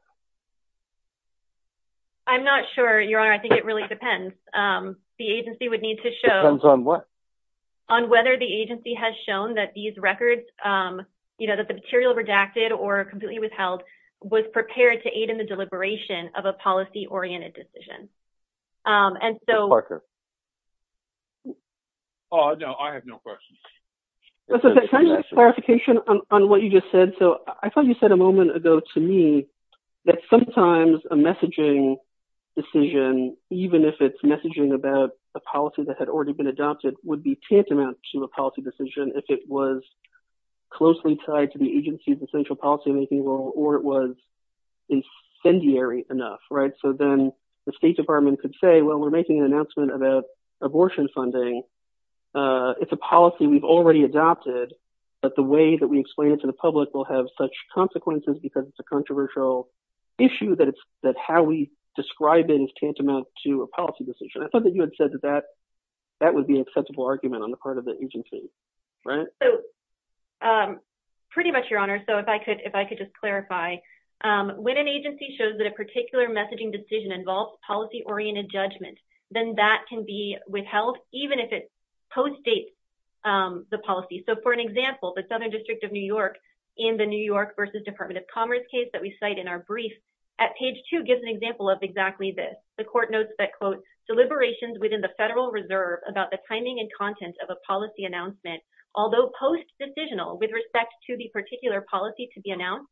I'm not sure, your Honor. I think it really depends. The agency would need to show- Depends on what? On whether the agency has shown that these records, that the material redacted or completely withheld, was prepared to aid in the deliberation of a policy-oriented decision. And so- Mr. Parker? No, I have no questions. Can I get clarification on what you just said? So I thought you said a moment ago to me that sometimes a messaging decision, even if it's messaging about a policy that had already been adopted, would be tantamount to a policy decision if it was closely tied to the agency's essential policy-making role, or it was incendiary enough. Right? So then the State Department could say, well, we're making an announcement about abortion funding. It's a policy we've already adopted, but the way that we explain it to the public will have such consequences because it's a controversial issue that how we describe it is tantamount to a policy decision. I thought that you had said that that would be an acceptable argument on the part of the agency, right? So pretty much, your Honor. So if I could just clarify, when an agency shows that a particular messaging decision involves policy-oriented judgment, then that can be withheld even if it postdates the policy. So for an example, the Southern District of New York, in the New York versus Department of Commerce case that we cite in our brief, at page two gives an example of exactly this. The court notes that, quote, deliberations within the Federal Reserve about the timing and content of a policy announcement, although post-decisional with respect to the particular policy to be announced,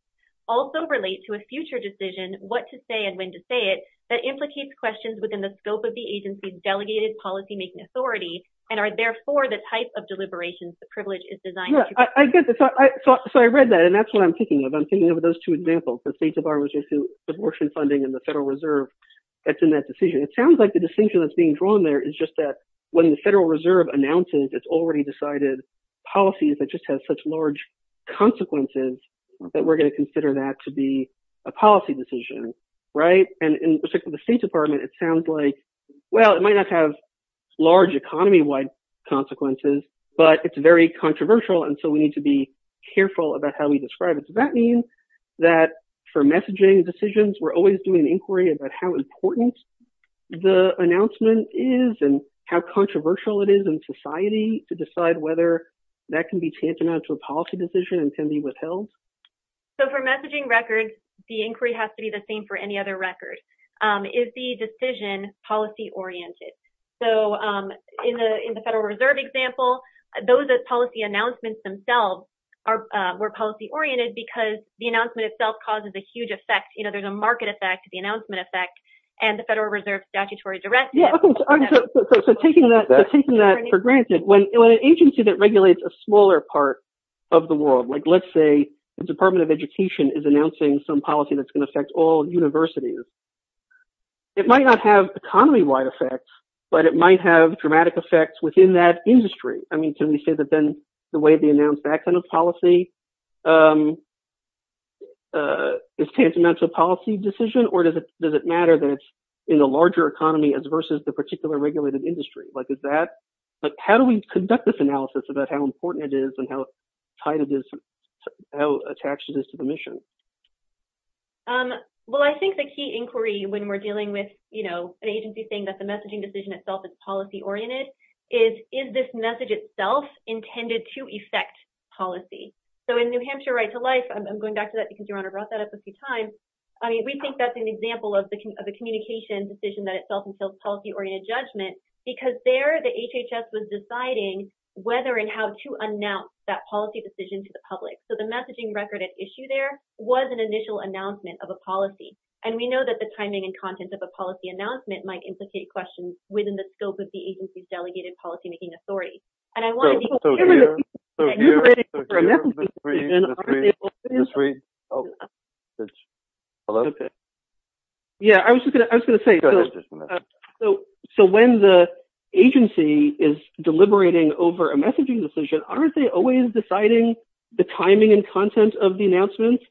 also relate to a future decision, what to say and when to say it, that implicates questions within the scope of the agency's delegated policy-making authority and are, therefore, the type of deliberations the privilege is designed to be. Yeah, I get that. So I read that, and that's what I'm thinking of. I'm thinking of those two examples, the State Department's abortion funding and the Federal Reserve that's in that decision. It sounds like the distinction that's being drawn there is just that when the Federal Reserve announces it's already decided policies that just have such large consequences that we're going to consider that to be a policy decision, right? And in respect to the State Department, it sounds like, well, it might not have large economy-wide consequences, but it's very controversial, and so we need to be careful about how we describe it. So that means that for messaging decisions, we're always doing an inquiry about how important the announcement is and how controversial it is in society to decide whether that can be tantamount to a policy decision and can be withheld. So for messaging records, the inquiry has to be the same for any other record. Is the decision policy-oriented? So in the Federal Reserve example, those policy announcements themselves were policy-oriented because the announcement itself causes a huge effect. There's a market effect, the announcement effect, and the Federal Reserve statutory directive. Yeah, so taking that for granted, when an agency that regulates a smaller part of the world, let's say the Department of Education is announcing some policy that's going to affect all universities, it might not have economy-wide effects, but it might have dramatic effects within that industry. I mean, can we say that then the way they announce that kind of policy is tantamount to a policy decision, or does it matter that it's in a larger economy as versus the particular regulated industry? How do we conduct this analysis about how important it is and how tied it is, how attached it is to the mission? Well, I think the key inquiry when we're dealing with an agency saying that the messaging decision itself is policy-oriented is, is this message itself intended to affect policy? So in New Hampshire Right to Life, I'm going back to that because Your Honor brought that up a few times, I mean, we think that's an example of the communication decision that itself entails policy-oriented judgment, because there the HHS was deciding whether and how to announce that policy decision to the public. So the messaging record at issue there was an initial announcement of a policy. And we know that the timing and content of a policy announcement might incite questions within the scope of the agency's delegated policymaking authority. And I want you to remember that you're deliberating over a messaging decision, aren't they always deciding the timing and content of the announcement?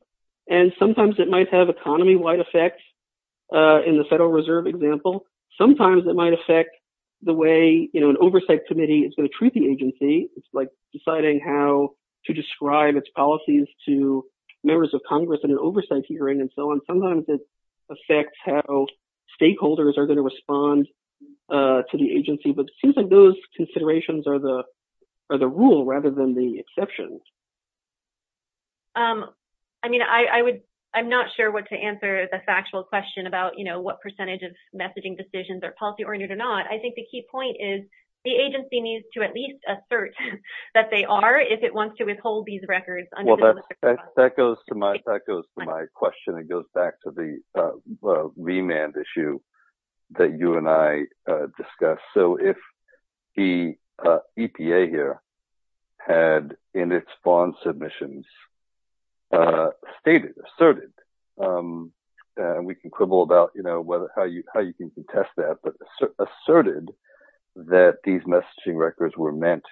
And sometimes it might have economy-wide effects. In the Federal Reserve example, sometimes it might affect the way an oversight committee is going to treat the agency. It's like deciding how to describe its policies to members of Congress in an oversight hearing and so on. Sometimes it affects how stakeholders are going to respond to the agency. But it seems like those considerations are the rule rather than the exception. I mean, I'm not sure what to answer the factual question about what percentage of messaging decisions are policy-oriented or not. I think the key point is the agency needs to at least assert that they are if it wants to withhold these records. Well, that goes to my question. It goes back to the remand issue that you and I discussed. So if the EPA here had in its bond submissions stated, asserted, and we can quibble about how you can contest that, but asserted that these messaging records were meant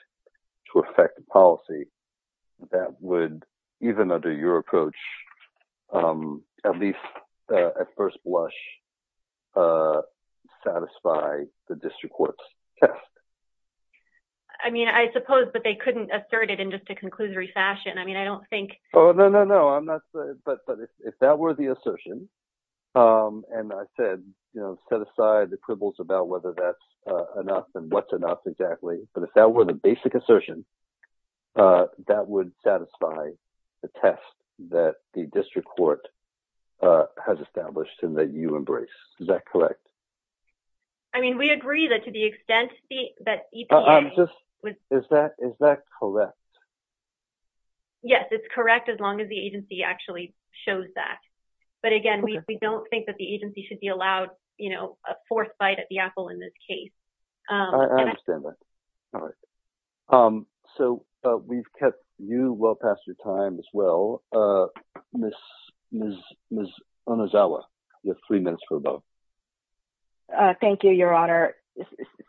to affect the policy, that would, even under your approach, at least at first blush, satisfy the district court's test. I mean, I suppose, but they couldn't assert it in just a conclusory fashion. I mean, I don't think... No, no, no. I'm not... But if that were the assertion, and I said, set aside the quibbles about whether that's enough and what's enough exactly. But if that were the basic assertion, that would satisfy the test that the district court has established and that you embrace. Is that correct? I mean, we agree that to the extent that EPA... I'm just... Is that correct? Yes, it's correct, as long as the agency actually shows that. But again, we don't think that the agency should be allowed a fourth bite at the apple in this case. I understand that. All right. So we've kept you well past your time as well. Ms. Onozawa, you have three minutes for a vote. Thank you, Your Honor.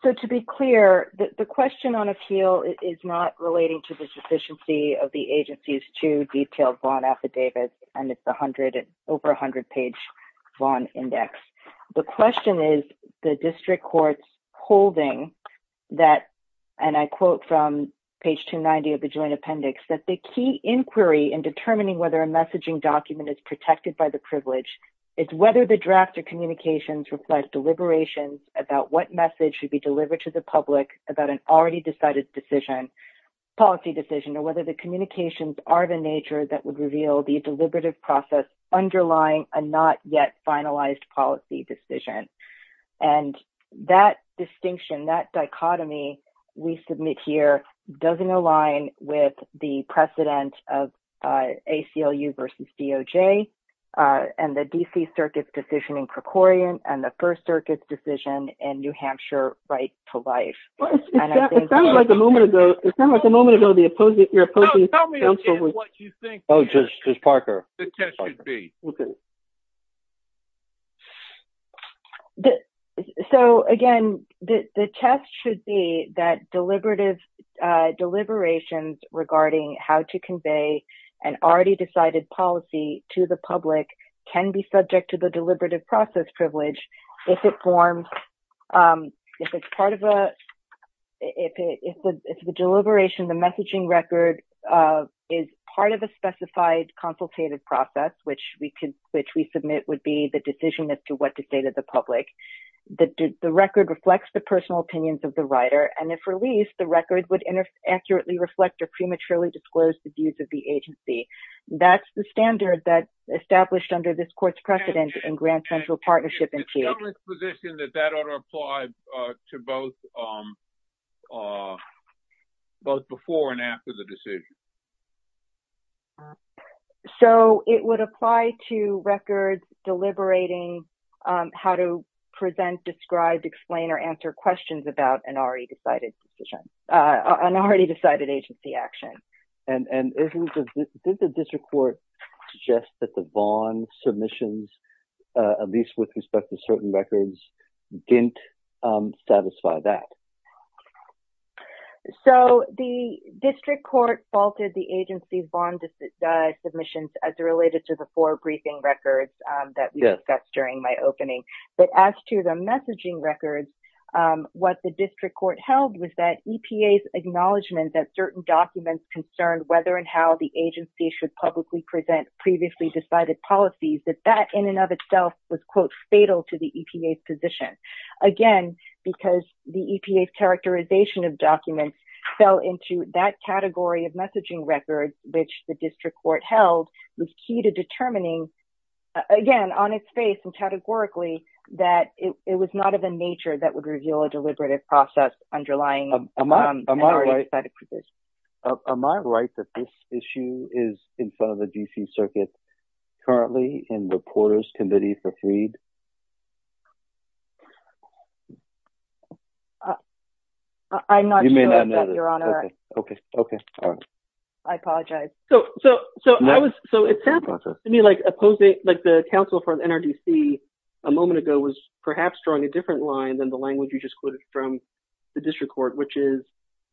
So to be clear, the question on appeal is not relating to the sufficiency of the agency's two detailed bond affidavits, and it's over 100-page bond index. The question is the district court's holding that, and I quote from page 290 of the joint appendix, that the key inquiry in determining whether a messaging document is protected by the privilege is whether the draft of communications reflect deliberations about what message should be delivered to the public about an already decided decision, policy decision, or whether the communications are the nature that would reveal the deliberative process underlying a not yet finalized policy decision. And that distinction, that dichotomy we submit here doesn't align with the precedent of ACLU versus DOJ and the First Circuit's decision in New Hampshire right to life. It sounds like a moment ago, the opposing counsel was... Tell me again what you think the test should be. So again, the test should be that deliberations regarding how to convey an already decided policy to the public can be subject to the deliberative process privilege if it's part of a... If the deliberation, the messaging record is part of a specified consultative process, which we submit would be the decision as to what to say to the public. The record reflects the personal opinions of the writer, and if released, the record would accurately reflect or prematurely disclose the agency. That's the standard that's established under this court's precedent in Grand Central Partnership and TAG. It sounds like the position that that ought to apply to both before and after the decision. So it would apply to records deliberating how to present, describe, explain, or answer questions about an already decided decision, an already decided agency action. And did the district court suggest that the bond submissions, at least with respect to certain records, didn't satisfy that? So the district court faulted the agency bond submissions as related to the four briefing records that we discussed during my opening. But as to the messaging records, what the district held was that EPA's acknowledgement that certain documents concerned whether and how the agency should publicly present previously decided policies, that that in and of itself was fatal to the EPA's position. Again, because the EPA's characterization of documents fell into that category of messaging records, which the district court held was key to determining, again, on its face and categorically, that it was not of a nature that would reveal a process underlying an already decided position. Am I right that this issue is in front of the D.C. Circuit currently in Reporters' Committee for Freed? I'm not sure about that, Your Honor. Okay. Okay. All right. I apologize. So it sounds to me like the counsel for NRDC a moment ago was perhaps drawing a different line than the language you just quoted from the district court, which is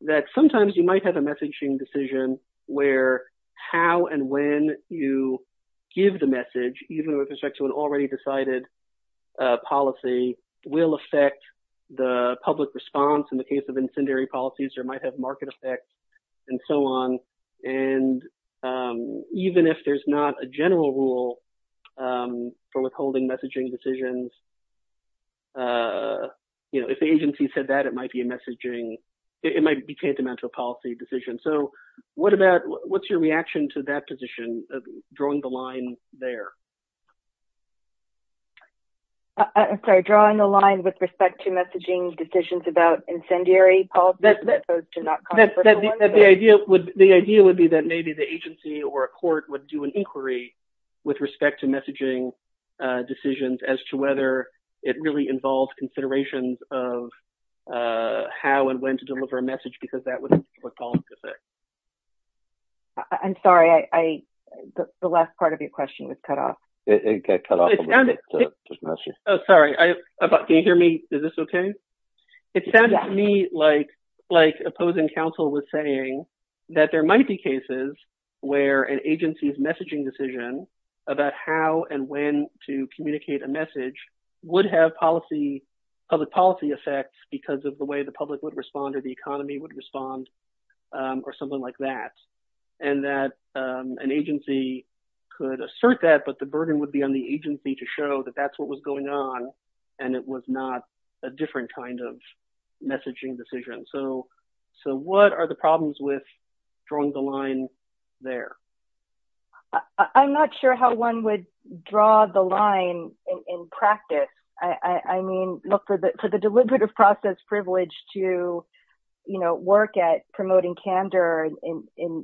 that sometimes you might have a messaging decision where how and when you give the message, even with respect to an already decided policy, will affect the public response. In the case of incendiary policies, there might have market effects and so on. And even if there's not a general rule for withholding messaging decisions, if the agency said that, it might be a messaging, it might be tantamount to a policy decision. So what's your reaction to that position, drawing the line there? I'm sorry. Drawing the line with respect to messaging decisions about incendiary policies? The idea would be that maybe the agency or a court would do an inquiry with respect to messaging decisions as to whether it really involves considerations of how and when to deliver a message, because that was a public policy effect. I'm sorry. The last part of your question was cut off. It got cut off. Sorry. Can you hear me? Is this okay? It sounds to me like opposing counsel was saying that there might be cases where an agency's messaging decision about how and when to communicate a message would have public policy effects because of the way the public would respond or the economy would respond or something like that. And that an agency could assert that, the burden would be on the agency to show that that's what was going on and it was not a different kind of messaging decision. So what are the problems with drawing the line there? I'm not sure how one would draw the line in practice. I mean, look, for the deliberative process privilege to work at promoting candor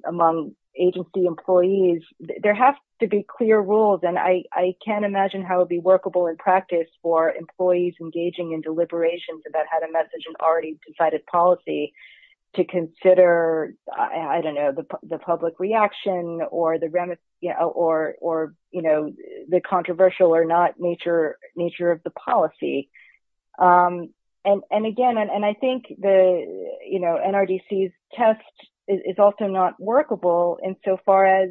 among agency employees, there have to be clear rules. And I can't imagine how it would be workable in practice for employees engaging in deliberations about how to message an already decided policy to consider, I don't know, the public reaction or the controversial or not nature of the policy. And again, and I think NRDC's test is also not workable insofar as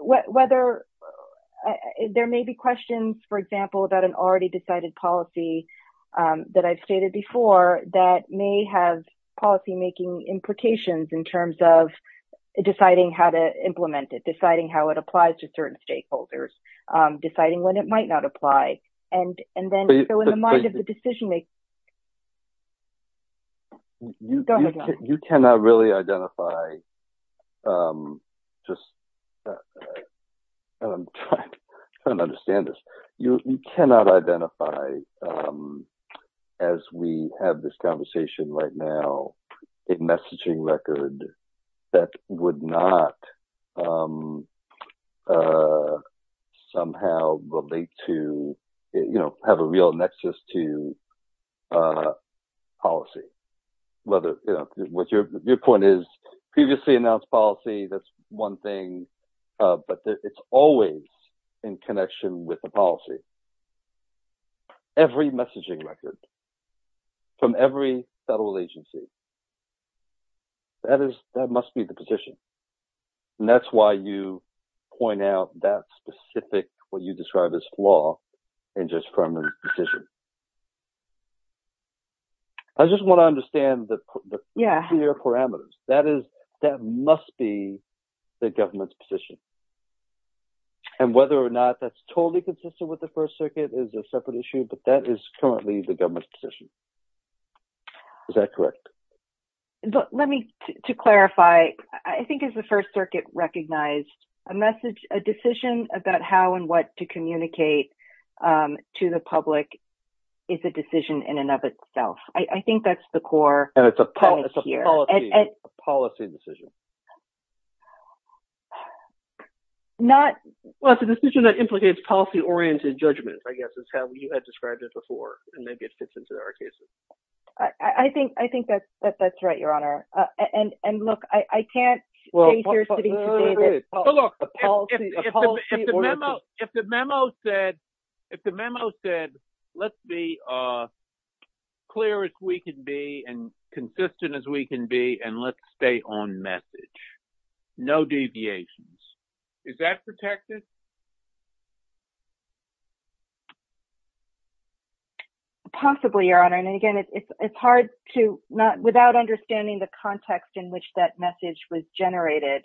whether there may be questions, for example, about an already decided policy that I've stated before that may have policymaking implications in terms of deciding how to implement it, deciding how it applies to certain stakeholders, deciding when it might not apply. And then so in the mind of the decision-makers... You cannot really identify just... I'm trying to understand this. You cannot identify, as we have this conversation right now, a messaging record that would not somehow relate to, have a real nexus to policy. Your point is previously announced policy, that's one thing, but it's always in connection with the policy. Every messaging record from every federal agency, that must be the position. And that's why you point out that specific, what you described as law and just from a decision. I just want to understand the clear parameters. That must be the government's position. And whether or not that's totally consistent with the First Circuit is a separate issue, but that is currently the government's position. Is that correct? But let me, to clarify, I think it's the First Circuit recognized a message, a decision about how and what to communicate to the public is a decision in and of itself. I think that's the core. And it's a policy decision. Not... Well, it's a decision that implicates policy-oriented judgment, I guess, is how you had described it before. And maybe it fits into our cases. I think that's right, Your Honor. And look, I can't say here today that policy-oriented... But look, if the memo said, let's be clear as we can be and consistent as we can be, and let's stay on message, no deviations, is that protected? Possibly, Your Honor. And again, it's hard to, without understanding the context in which that message was generated,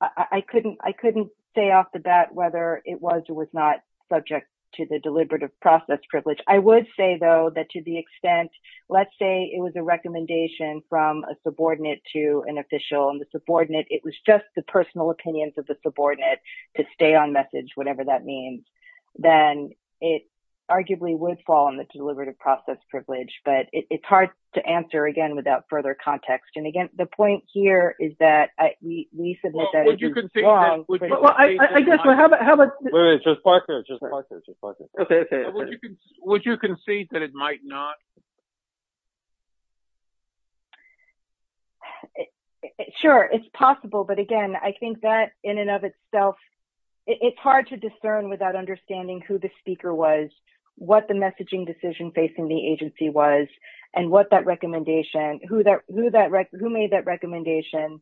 I couldn't say off the bat whether it was or was not subject to the deliberative process privilege. I would say, though, that to the extent, let's say it was a recommendation from a subordinate to an official, and the subordinate, it was just the personal message, whatever that means, then it arguably would fall on the deliberative process privilege. But it's hard to answer, again, without further context. And again, the point here is that we submit that it's wrong... Well, would you concede that... Well, I guess, well, how about... Wait a minute, Judge Parker, Judge Parker, Judge Parker. Okay, okay, okay. Would you concede that it might not? Sure, it's possible. But again, I think that, in and of itself, it's hard to discern without understanding who the speaker was, what the messaging decision facing the agency was, and what that recommendation, who made that recommendation.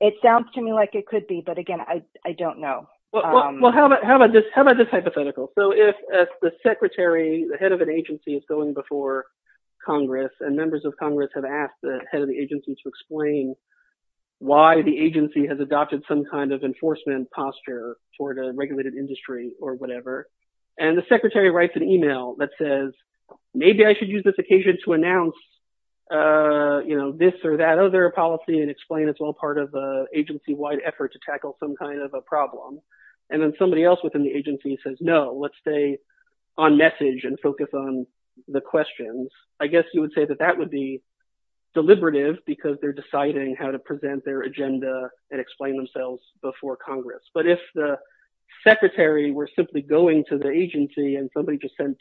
It sounds to me like it could be, but again, I don't know. Well, how about this hypothetical? So, if the secretary, the head of an agency is going before Congress, and members of Congress have asked the head of the agency to explain why the agency has adopted some kind of enforcement posture toward a regulated industry or whatever. And the secretary writes an email that says, maybe I should use this occasion to announce this or that other policy and explain it's all part of the agency-wide effort to tackle some kind of a problem. And then somebody else within the agency says, no, let's stay on message and focus on the questions. I guess you would say that that would be deliberative because they're deciding how to present their agenda and explain themselves before Congress. But if the secretary were simply going to the agency and somebody just sent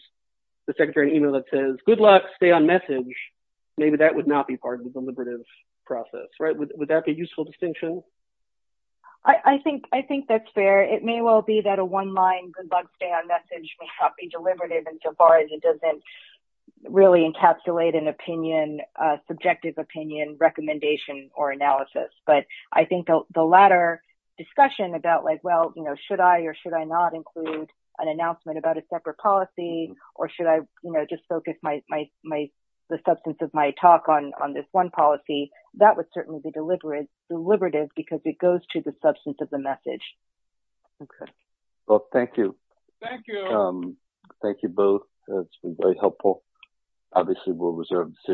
the secretary an email that says, good luck, stay on message, maybe that would not be part of the deliberative process, right? Would that be a useful distinction? I think that's fair. It may well be that a one-line, good luck, stay on message, may not be deliberative insofar as it doesn't really encapsulate an opinion, a subjective opinion, recommendation, or analysis. But I think the latter discussion about like, well, should I or should I not include an announcement about a separate policy? Or should I just focus the substance of my talk on this one policy? That would certainly be deliberative because it goes to the substance of the message. Okay. Well, thank you. Thank you. Thank you both. That's been very helpful. Obviously, we'll reserve the decision.